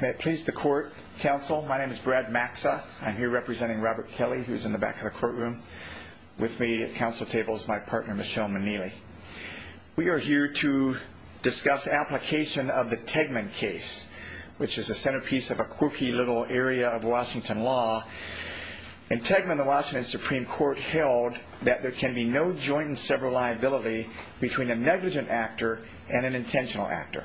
May it please the Court, Counsel. My name is Brad Maxa. I'm here representing Robert Kelly, who's in the back of the courtroom. With me at counsel table is my partner, Michelle Manili. We are here to discuss application of the Tegman case, which is the centerpiece of a quirky little area of Washington law. In Tegman, the Washington Supreme Court held that there can be no joint and several liability between a negligent actor and an intentional actor.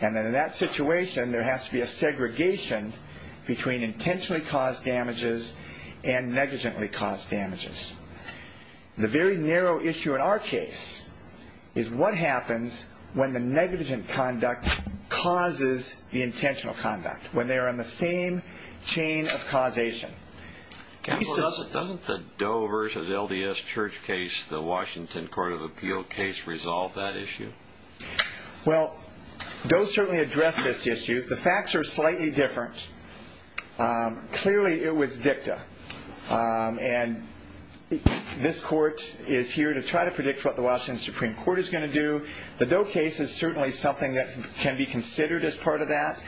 And in that situation, there has to be a segregation between intentionally caused damages and negligently caused damages. The very narrow issue in our case is what happens when the negligent conduct causes the intentional conduct, when they are on the same chain of causation. Counsel, doesn't the Doe v. LDS Church case, the Washington Court of Appeal case, resolve that issue? Well, Doe certainly addressed this issue. The facts are slightly different. Clearly, it was dicta. And this court is here to try to predict what the Washington Supreme Court is going to do. The Doe case is certainly something that can be considered as part of that.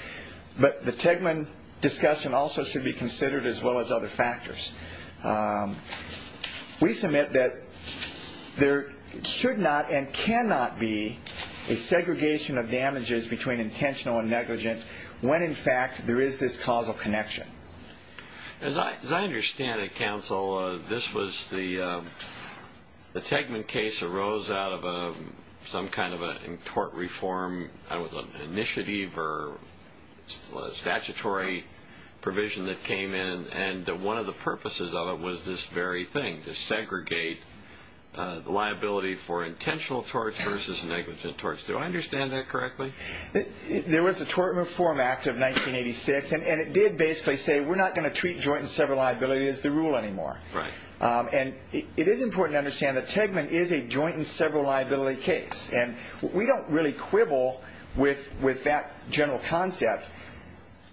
But the Tegman discussion also should be considered as well as other factors. We submit that there should not and cannot be a segregation of damages between intentional and negligent when, in fact, there is this causal connection. As I understand it, Counsel, the Tegman case arose out of some kind of a tort reform initiative or statutory provision that came in. And one of the purposes of it was this very thing, to segregate the liability for intentional torts versus negligent torts. Do I understand that correctly? There was a Tort Reform Act of 1986, and it did basically say we're not going to treat joint and several liability as the rule anymore. And it is important to understand that Tegman is a joint and several liability case. And we don't really quibble with that general concept.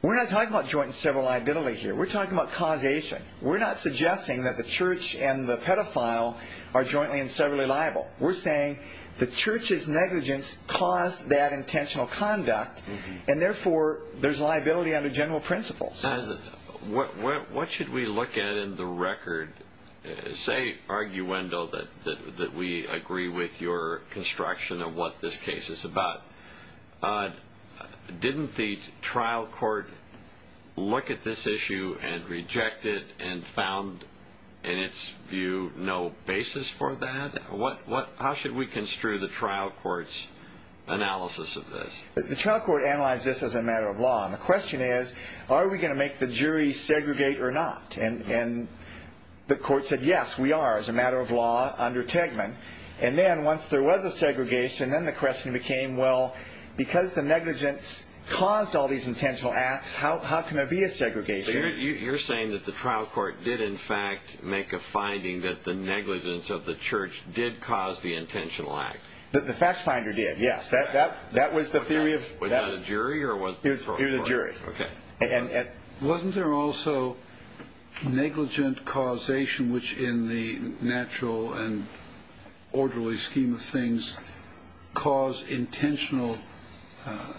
We're not talking about joint and several liability here. We're talking about causation. We're not suggesting that the Church and the pedophile are jointly and severally liable. We're saying the Church's negligence caused that intentional conduct, and therefore there's liability under general principles. What should we look at in the record, say, arguendo, that we agree with your construction of what this case is about? Didn't the trial court look at this issue and reject it and found, in its view, no basis for that? How should we construe the trial court's analysis of this? The trial court analyzed this as a matter of law. And the question is, are we going to make the jury segregate or not? And the court said, yes, we are, as a matter of law, under Tegman. And then once there was a segregation, then the question became, well, because the negligence caused all these intentional acts, how can there be a segregation? So you're saying that the trial court did, in fact, make a finding that the negligence of the Church did cause the intentional act? The fact finder did, yes. That was the theory of that. Was that a jury? It was a jury. Wasn't there also negligent causation, which, in the natural and orderly scheme of things, caused intentional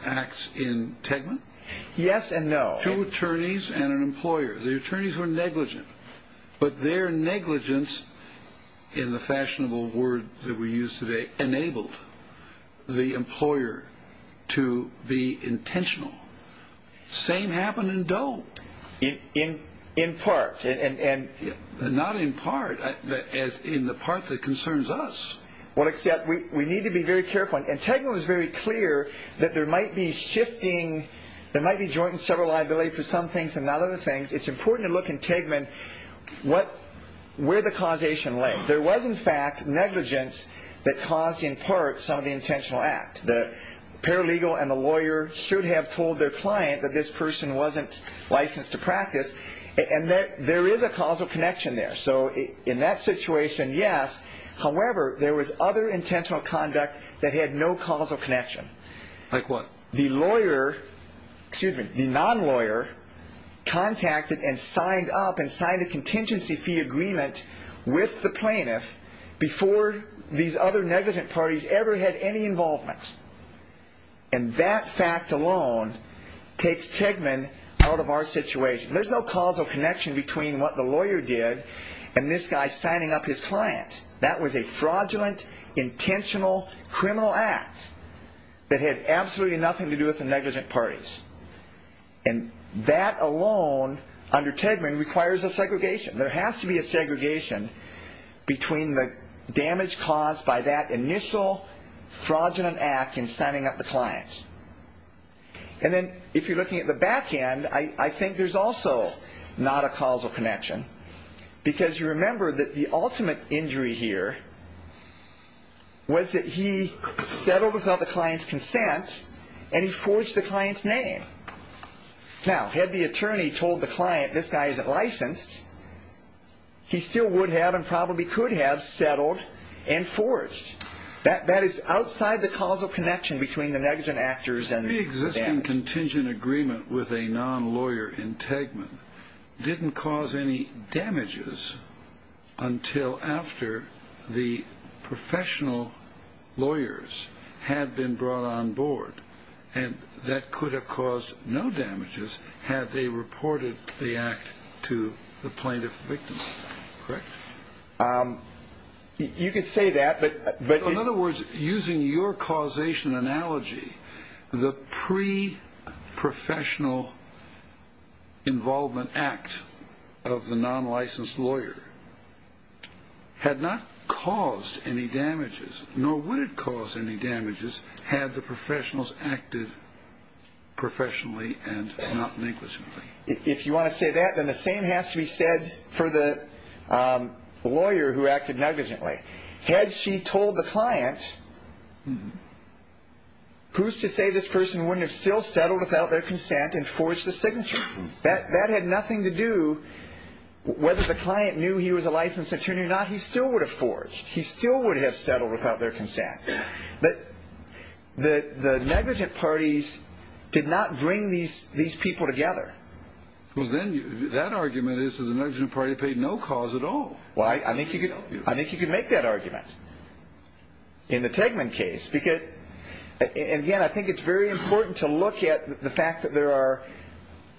acts in Tegman? Yes and no. Two attorneys and an employer. The attorneys were negligent, but their negligence, in the fashionable word that we use today, enabled the employer to be intentional. Same happened in Doe. In part. Not in part. In the part that concerns us. Well, except we need to be very careful. And Tegman was very clear that there might be shifting, there might be joint and several liability for some things and not other things. It's important to look in Tegman where the causation lay. There was, in fact, negligence that caused, in part, some of the intentional act. The paralegal and the lawyer should have told their client that this person wasn't licensed to practice. And there is a causal connection there. So in that situation, yes. However, there was other intentional conduct that had no causal connection. Like what? The non-lawyer contacted and signed up and signed a contingency fee agreement with the plaintiff before these other negligent parties ever had any involvement. And that fact alone takes Tegman out of our situation. There's no causal connection between what the lawyer did and this guy signing up his client. That was a fraudulent, intentional, criminal act that had absolutely nothing to do with the negligent parties. And that alone, under Tegman, requires a segregation. There has to be a segregation between the damage caused by that initial fraudulent act in signing up the client. And then if you're looking at the back end, I think there's also not a causal connection. Because you remember that the ultimate injury here was that he settled without the client's consent and he forged the client's name. Now, had the attorney told the client this guy isn't licensed, he still would have and probably could have settled and forged. That is outside the causal connection between the negligent actors and the damage. The existing contingent agreement with a non-lawyer in Tegman didn't cause any damages until after the professional lawyers had been brought on board. And that could have caused no damages had they reported the act to the plaintiff victim. Correct? You could say that, but... In other words, using your causation analogy, the pre-professional involvement act of the non-licensed lawyer had not caused any damages, nor would it cause any damages had the professionals acted professionally and not negligently. If you want to say that, then the same has to be said for the lawyer who acted negligently. Had she told the client, who's to say this person wouldn't have still settled without their consent and forged the signature? That had nothing to do whether the client knew he was a licensed attorney or not. He still would have forged. He still would have settled without their consent. But the negligent parties did not bring these people together. Well, then that argument is that the negligent party paid no cause at all. Well, I think you could make that argument in the Tegman case. Again, I think it's very important to look at the fact that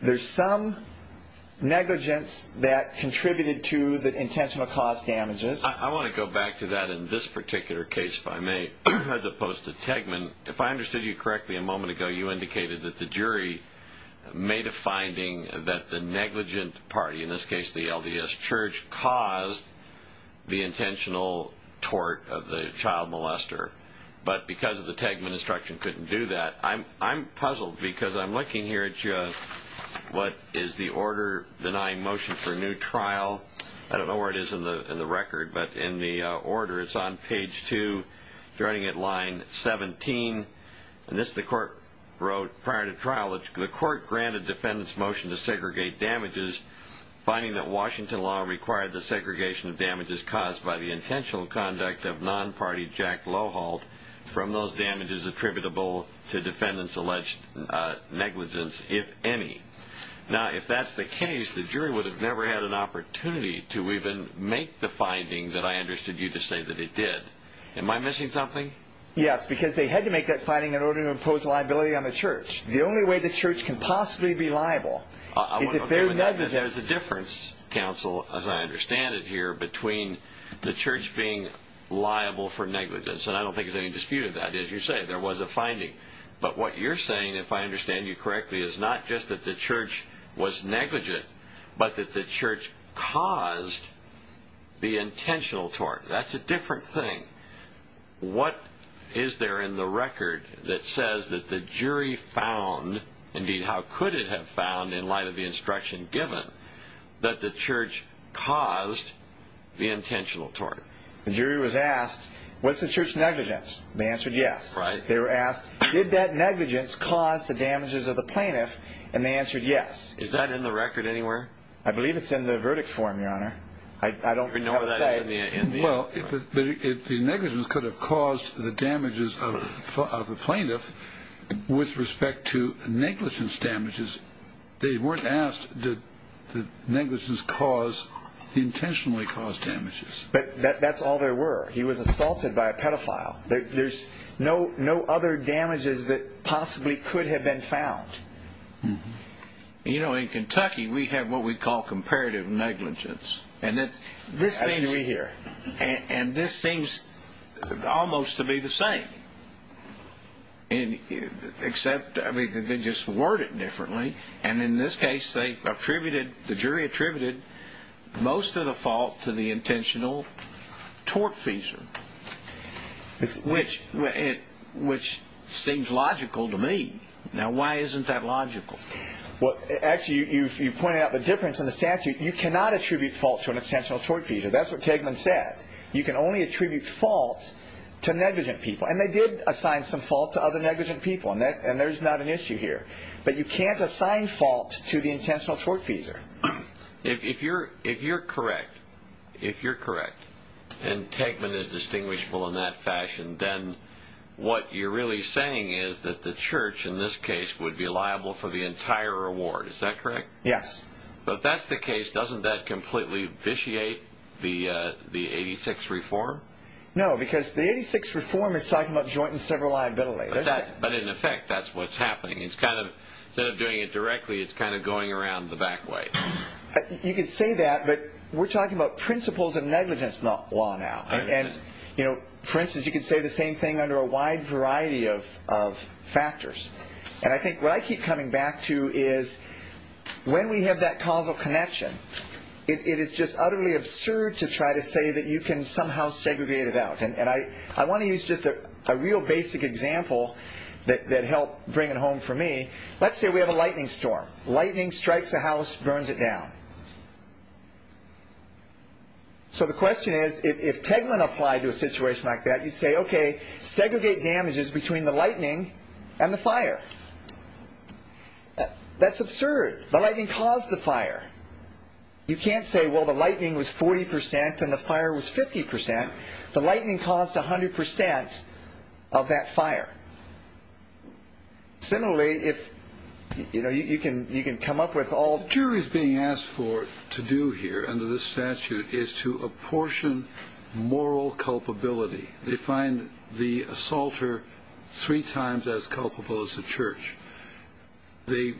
there's some negligence that contributed to the intentional cause damages. I want to go back to that in this particular case, if I may, as opposed to Tegman. If I understood you correctly a moment ago, you indicated that the jury made a finding that the negligent party, in this case the LDS Church, caused the intentional tort of the child molester. But because of the Tegman instruction, couldn't do that. I'm puzzled because I'm looking here at what is the order denying motion for a new trial. I don't know where it is in the record, but in the order, it's on page 2, joining at line 17. And this the court wrote prior to trial. The court granted defendants motion to segregate damages, finding that Washington law required the segregation of damages caused by the intentional conduct of non-party Jack Loholt from those damages attributable to defendants' alleged negligence, if any. Now, if that's the case, the jury would have never had an opportunity to even make the finding that I understood you to say that it did. Am I missing something? Yes, because they had to make that finding in order to impose liability on the church. The only way the church can possibly be liable is if they're negligent. There's a difference, counsel, as I understand it here, between the church being liable for negligence. And I don't think there's any dispute of that. As you say, there was a finding. But what you're saying, if I understand you correctly, is not just that the church was negligent, but that the church caused the intentional tort. That's a different thing. What is there in the record that says that the jury found, indeed how could it have found in light of the instruction given, that the church caused the intentional tort? The jury was asked, was the church negligent? They answered yes. They were asked, did that negligence cause the damages of the plaintiff? And they answered yes. Is that in the record anywhere? I believe it's in the verdict form, Your Honor. I don't have a say. Well, if the negligence could have caused the damages of the plaintiff, with respect to negligence damages, they weren't asked did the negligence cause the intentionally caused damages. But that's all there were. He was assaulted by a pedophile. There's no other damages that possibly could have been found. You know, in Kentucky we have what we call comparative negligence. That's what we hear. And this seems almost to be the same, except they just word it differently. And in this case they attributed, the jury attributed most of the fault to the intentional tortfeasor, which seems logical to me. Now, why isn't that logical? Well, actually, you pointed out the difference in the statute. You cannot attribute fault to an intentional tortfeasor. That's what Tegman said. You can only attribute fault to negligent people. And they did assign some fault to other negligent people, and there's not an issue here. But you can't assign fault to the intentional tortfeasor. If you're correct, if you're correct, and Tegman is distinguishable in that fashion, then what you're really saying is that the church, in this case, would be liable for the entire award. Is that correct? Yes. If that's the case, doesn't that completely vitiate the 86 reform? No, because the 86 reform is talking about joint and sever liability. But, in effect, that's what's happening. Instead of doing it directly, it's kind of going around the back way. You could say that, but we're talking about principles of negligence law now. And, for instance, you could say the same thing under a wide variety of factors. And I think what I keep coming back to is when we have that causal connection, it is just utterly absurd to try to say that you can somehow segregate it out. And I want to use just a real basic example that helped bring it home for me. Let's say we have a lightning storm. Lightning strikes a house, burns it down. So the question is, if Tegman applied to a situation like that, you'd say, okay, segregate damages between the lightning and the fire. That's absurd. The lightning caused the fire. You can't say, well, the lightning was 40% and the fire was 50%. The lightning caused 100% of that fire. Similarly, if, you know, you can come up with all. The jury's being asked for to do here under this statute is to apportion moral culpability. They find the assaulter three times as culpable as the church. They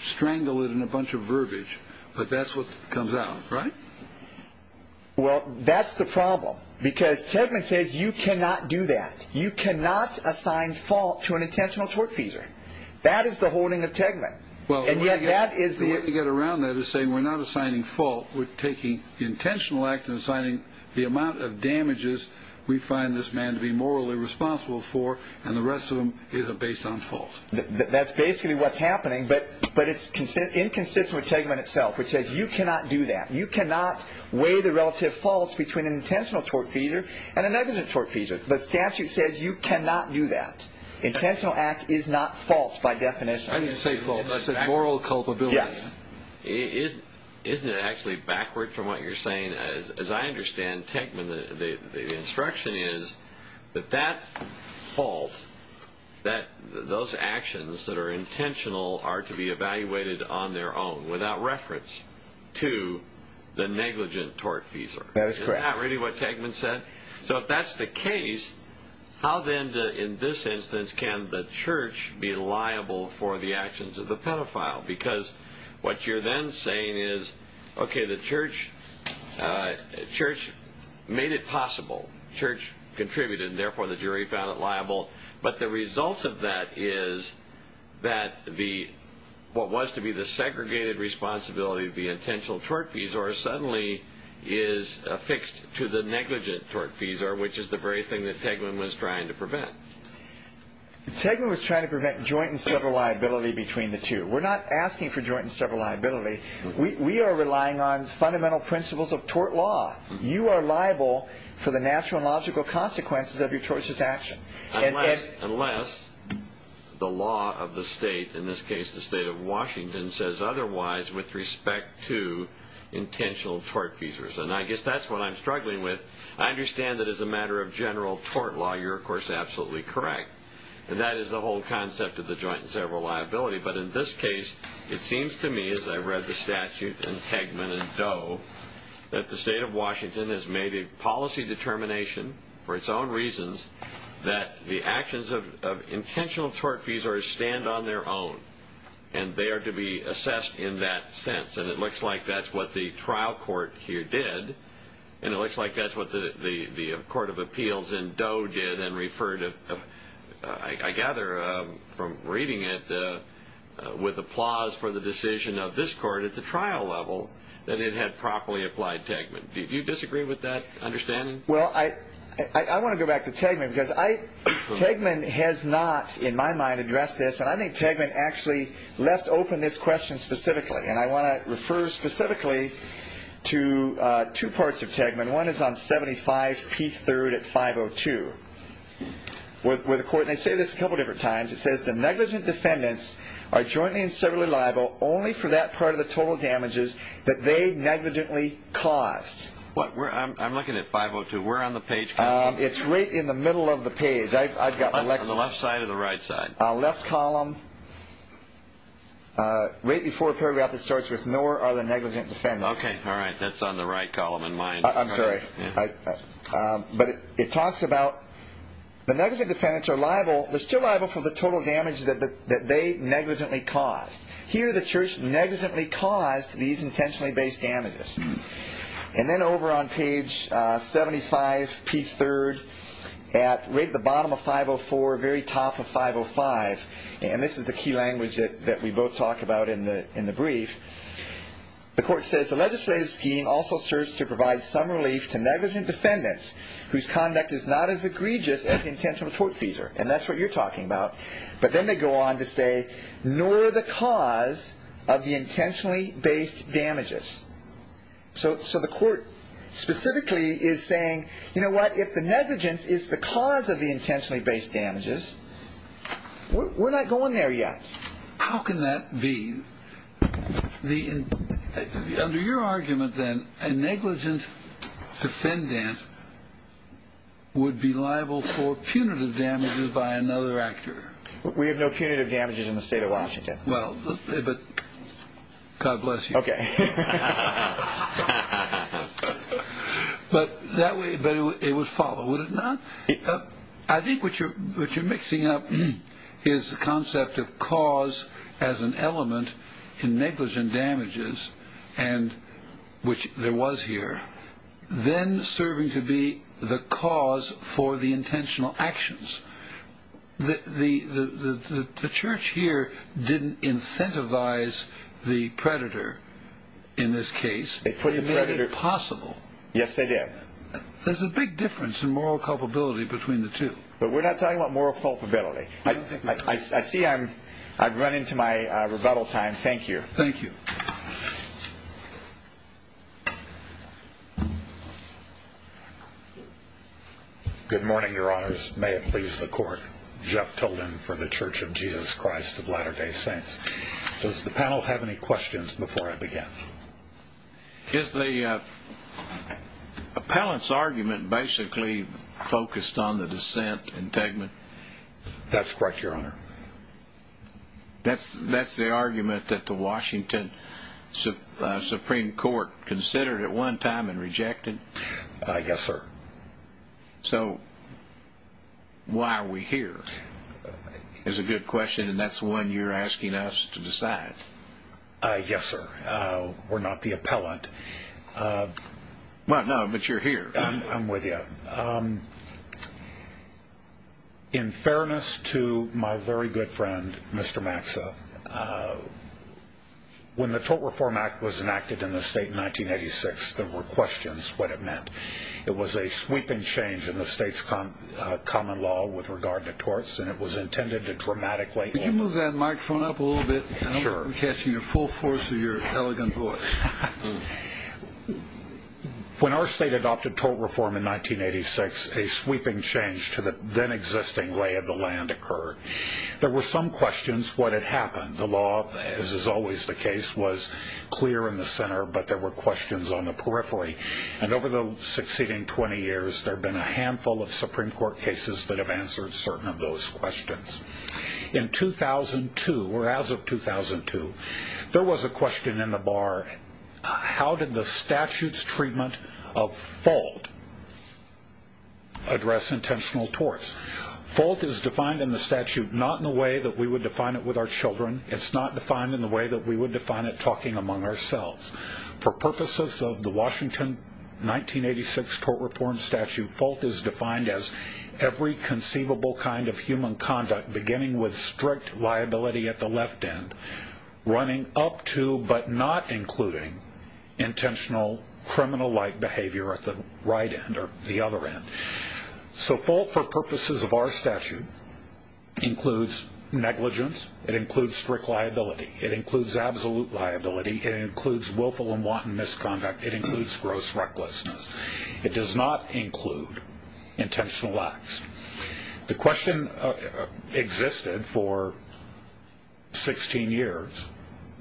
strangle it in a bunch of verbiage, but that's what comes out, right? Well, that's the problem, because Tegman says you cannot do that. You cannot assign fault to an intentional tortfeasor. That is the holding of Tegman. And yet that is the- The way to get around that is saying we're not assigning fault. We're taking intentional act and assigning the amount of damages we find this man to be morally responsible for, and the rest of them is based on fault. That's basically what's happening, but it's inconsistent with Tegman itself, which says you cannot do that. You cannot weigh the relative faults between an intentional tortfeasor and a negligent tortfeasor. The statute says you cannot do that. Intentional act is not fault by definition. I didn't say fault. I said moral culpability. Yes. Isn't it actually backward from what you're saying? As I understand Tegman, the instruction is that that fault, that those actions that are intentional are to be evaluated on their own without reference to the negligent tortfeasor. That is correct. Isn't that really what Tegman said? So if that's the case, how then in this instance can the church be liable for the actions of the pedophile? Because what you're then saying is, okay, the church made it possible. The church contributed, and therefore the jury found it liable. But the result of that is that what was to be the segregated responsibility of the intentional tortfeasor suddenly is affixed to the negligent tortfeasor, which is the very thing that Tegman was trying to prevent. Tegman was trying to prevent joint and several liability between the two. We're not asking for joint and several liability. We are relying on fundamental principles of tort law. You are liable for the natural and logical consequences of your church's action. Unless the law of the state, in this case the state of Washington, says otherwise with respect to intentional tortfeasors. And I guess that's what I'm struggling with. I understand that as a matter of general tort law you're, of course, absolutely correct. And that is the whole concept of the joint and several liability. But in this case, it seems to me, as I read the statute in Tegman and Doe, that the state of Washington has made a policy determination for its own reasons that the actions of intentional tortfeasors stand on their own. And they are to be assessed in that sense. And it looks like that's what the trial court here did. And it looks like that's what the court of appeals in Doe did and referred to. I gather from reading it with applause for the decision of this court at the trial level that it had properly applied Tegman. Do you disagree with that understanding? Well, I want to go back to Tegman because Tegman has not, in my mind, addressed this. And I think Tegman actually left open this question specifically. And one is on 75P3 at 502. They say this a couple different times. It says the negligent defendants are jointly and severally liable only for that part of the total damages that they negligently caused. I'm looking at 502. We're on the page. It's right in the middle of the page. On the left side or the right side? Left column. Okay. All right. That's on the right column in mind. I'm sorry. But it talks about the negligent defendants are liable. They're still liable for the total damage that they negligently caused. Here the church negligently caused these intentionally based damages. And then over on page 75P3 at right at the bottom of 504, very top of 505, and this is the key language that we both talked about in the brief, the court says the legislative scheme also serves to provide some relief to negligent defendants whose conduct is not as egregious as the intentional tortfeasor. And that's what you're talking about. But then they go on to say nor the cause of the intentionally based damages. So the court specifically is saying, you know what, if the negligence is the cause of the intentionally based damages, we're not going there yet. How can that be? Under your argument, then, a negligent defendant would be liable for punitive damages by another actor. We have no punitive damages in the state of Washington. Well, but God bless you. Okay. But it would follow, would it not? I think what you're mixing up is the concept of cause as an element in negligent damages, and which there was here, then serving to be the cause for the intentional actions. The church here didn't incentivize the predator in this case. They put the predator. It made it impossible. Yes, they did. There's a big difference in moral culpability between the two. But we're not talking about moral culpability. I see I've run into my rebuttal time. Thank you. Thank you. Good morning, Your Honors. May it please the court. Jeff Tilden for the Church of Jesus Christ of Latter-day Saints. Does the panel have any questions before I begin? Is the appellant's argument basically focused on the dissent in Tegman? That's correct, Your Honor. That's the argument that the Washington Supreme Court considered at one time and rejected? Yes, sir. So why are we here is a good question, and that's one you're asking us to decide. Yes, sir. We're not the appellant. No, but you're here. I'm with you. In fairness to my very good friend, Mr. Maxa, when the Tort Reform Act was enacted in the state in 1986, there were questions what it meant. It was a sweeping change in the state's common law with regard to torts, and it was intended to dramatically improve it. Could you move that microphone up a little bit? Sure. I'm catching the full force of your elegant voice. When our state adopted tort reform in 1986, a sweeping change to the then-existing lay of the land occurred. There were some questions what had happened. The law, as is always the case, was clear in the center, but there were questions on the periphery. And over the succeeding 20 years, there have been a handful of Supreme Court cases that have answered certain of those questions. In 2002, or as of 2002, there was a question in the bar, how did the statute's treatment of fault address intentional torts? Fault is defined in the statute not in the way that we would define it with our children. It's not defined in the way that we would define it talking among ourselves. For purposes of the Washington 1986 tort reform statute, fault is defined as every conceivable kind of human conduct, beginning with strict liability at the left end, running up to but not including intentional criminal-like behavior at the right end or the other end. So fault, for purposes of our statute, includes negligence. It includes strict liability. It includes absolute liability. It includes willful and wanton misconduct. It includes gross recklessness. It does not include intentional acts. The question existed for 16 years.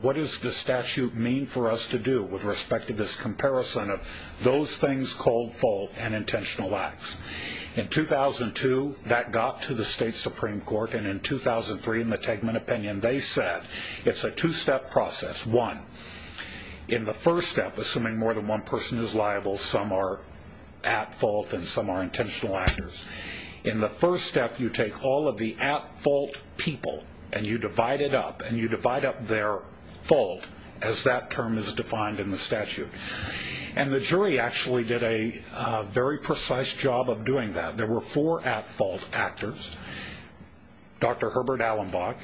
What does the statute mean for us to do with respect to this comparison of those things called fault and intentional acts? In 2002, that got to the state Supreme Court, and in 2003, in the Tegman opinion, they said it's a two-step process. One, in the first step, assuming more than one person is liable, some are at fault and some are intentional actors. In the first step, you take all of the at-fault people, and you divide it up, and you divide up their fault as that term is defined in the statute. And the jury actually did a very precise job of doing that. There were four at-fault actors, Dr. Herbert Allenbach,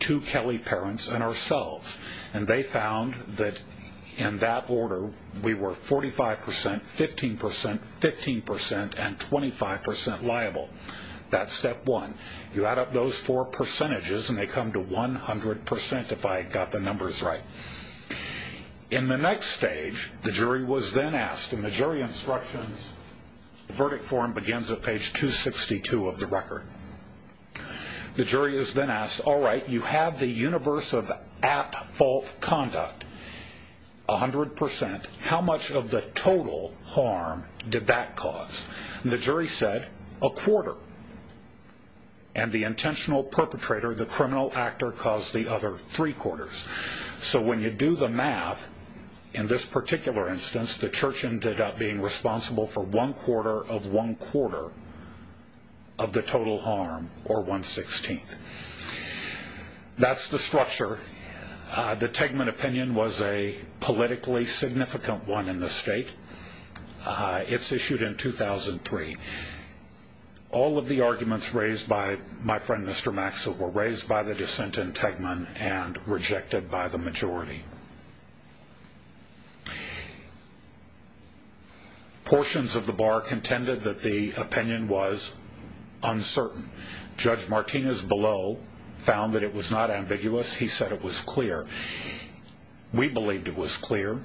two Kelly parents, and ourselves, and they found that in that order, we were 45%, 15%, 15%, and 25% liable. That's step one. You add up those four percentages, and they come to 100% if I got the numbers right. In the next stage, the jury was then asked. In the jury instructions, the verdict form begins at page 262 of the record. The jury is then asked, all right, you have the universe of at-fault conduct, 100%. How much of the total harm did that cause? And the jury said a quarter. And the intentional perpetrator, the criminal actor, caused the other three quarters. So when you do the math, in this particular instance, the church ended up being responsible for one-quarter of one-quarter of the total harm, or one-sixteenth. That's the structure. The Tegman opinion was a politically significant one in the state. It's issued in 2003. All of the arguments raised by my friend Mr. Maxwell were raised by the dissent in Tegman and rejected by the majority. Portions of the bar contended that the opinion was uncertain. Judge Martinez below found that it was not ambiguous. He said it was clear. We believed it was clear.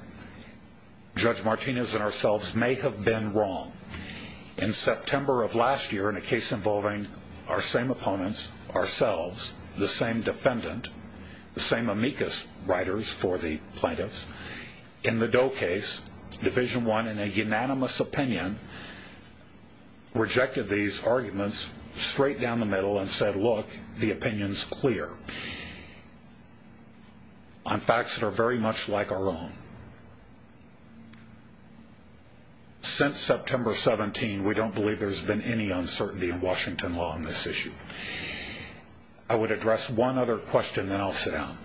Judge Martinez and ourselves may have been wrong. In September of last year, in a case involving our same opponents, ourselves, the same defendant, the same amicus writers for the plaintiffs, in the Doe case, Division I, in a unanimous opinion, rejected these arguments straight down the middle and said, look, the opinion's clear on facts that are very much like our own. Since September 17, we don't believe there's been any uncertainty in Washington law on this issue. I would address one other question, then I'll sit down.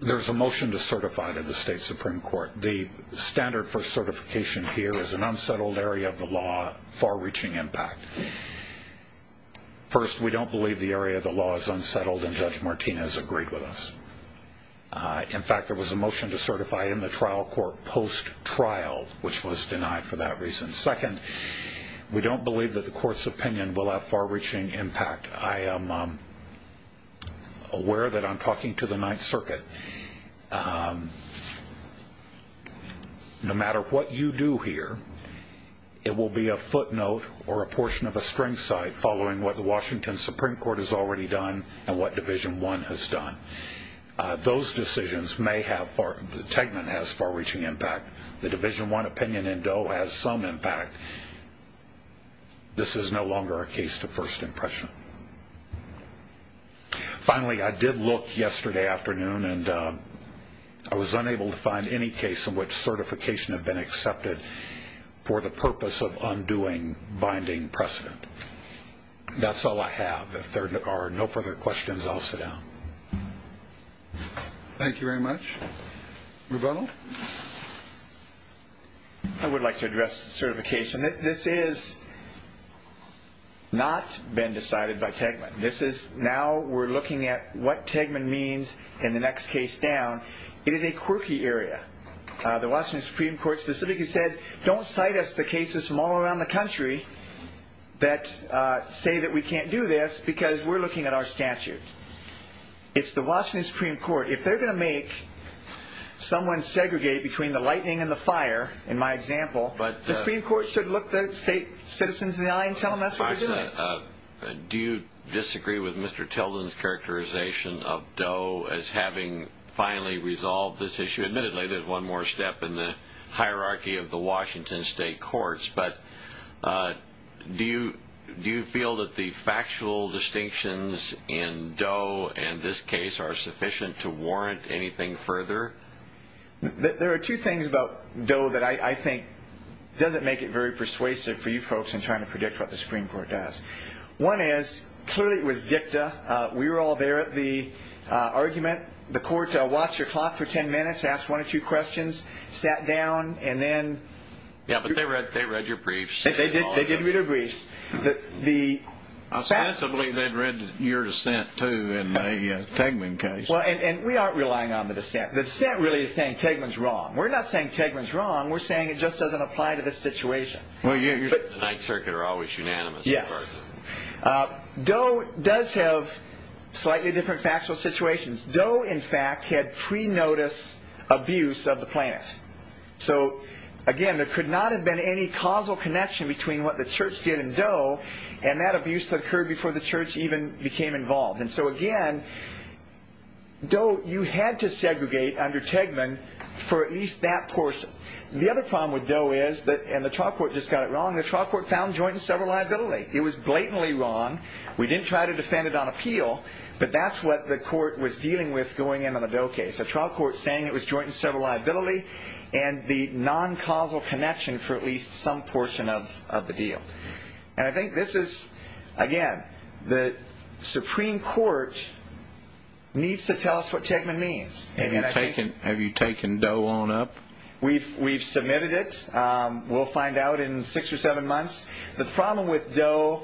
There's a motion to certify to the state Supreme Court. The standard for certification here is an unsettled area of the law, far-reaching impact. First, we don't believe the area of the law is unsettled, and Judge Martinez agreed with us. In fact, there was a motion to certify in the trial court post-trial, which was denied for that reason. Second, we don't believe that the court's opinion will have far-reaching impact. I am aware that I'm talking to the Ninth Circuit. No matter what you do here, it will be a footnote or a portion of a string site following what the Washington Supreme Court has already done and what Division I has done. Those decisions may have far-reaching impact. The Division I opinion in Doe has some impact. This is no longer a case to first impression. Finally, I did look yesterday afternoon, and I was unable to find any case in which certification had been accepted for the purpose of undoing binding precedent. That's all I have. If there are no further questions, I'll sit down. Thank you very much. Rebuttal? I would like to address certification. This has not been decided by Tegman. Now we're looking at what Tegman means in the next case down. It is a quirky area. The Washington Supreme Court specifically said, don't cite us the cases from all around the country that say that we can't do this because we're looking at our statute. It's the Washington Supreme Court. If they're going to make someone segregate between the lightning and the fire, in my example, the Supreme Court should look the state citizens in the eye and tell them that's what they're doing. Do you disagree with Mr. Tilden's characterization of Doe as having finally resolved this issue? Admittedly, there's one more step in the hierarchy of the Washington state courts, but do you feel that the factual distinctions in Doe and this case are sufficient to warrant anything further? There are two things about Doe that I think doesn't make it very persuasive for you folks in trying to predict what the Supreme Court does. One is, clearly it was dicta. We were all there at the argument. The court watched your clock for ten minutes, asked one or two questions, sat down, and then… Yeah, but they read your briefs. They did read our briefs. I believe they read your dissent, too, in the Tegman case. And we aren't relying on the dissent. The dissent really is saying Tegman's wrong. We're not saying Tegman's wrong. We're saying it just doesn't apply to this situation. The Ninth Circuit are always unanimous. Yes. Doe does have slightly different factual situations. Doe, in fact, had pre-notice abuse of the plaintiff. So, again, there could not have been any causal connection between what the church did in Doe and that abuse that occurred before the church even became involved. And so, again, Doe, you had to segregate under Tegman for at least that portion. The other problem with Doe is, and the trial court just got it wrong, the trial court found joint and several liability. It was blatantly wrong. We didn't try to defend it on appeal. But that's what the court was dealing with going in on the Doe case, a trial court saying it was joint and several liability and the non-causal connection for at least some portion of the deal. And I think this is, again, the Supreme Court needs to tell us what Tegman means. Have you taken Doe on up? We've submitted it. We'll find out in six or seven months. The problem with Doe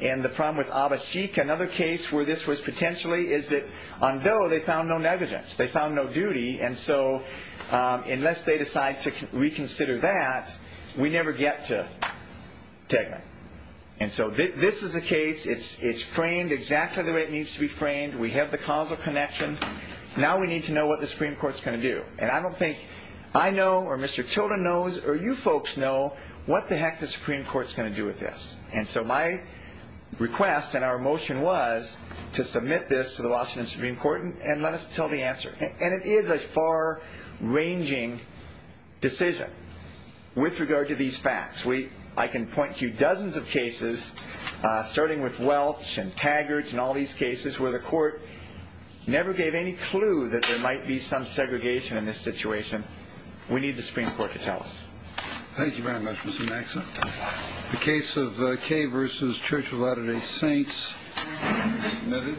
and the problem with Abba Sheik, another case where this was potentially is that on Doe they found no negligence. They found no duty. And so unless they decide to reconsider that, we never get to Tegman. And so this is a case. It's framed exactly the way it needs to be framed. We have the causal connection. Now we need to know what the Supreme Court is going to do. And I don't think I know or Mr. Tilden knows or you folks know what the heck the Supreme Court is going to do with this. And so my request and our motion was to submit this to the Washington Supreme Court and let us tell the answer. And it is a far-ranging decision with regard to these facts. I can point to dozens of cases, starting with Welch and Taggart and all these cases where the court never gave any clue that there might be some segregation in this situation. We need the Supreme Court to tell us. Thank you very much, Mr. Maxon. The case of Kaye v. Church of Latter-day Saints is submitted.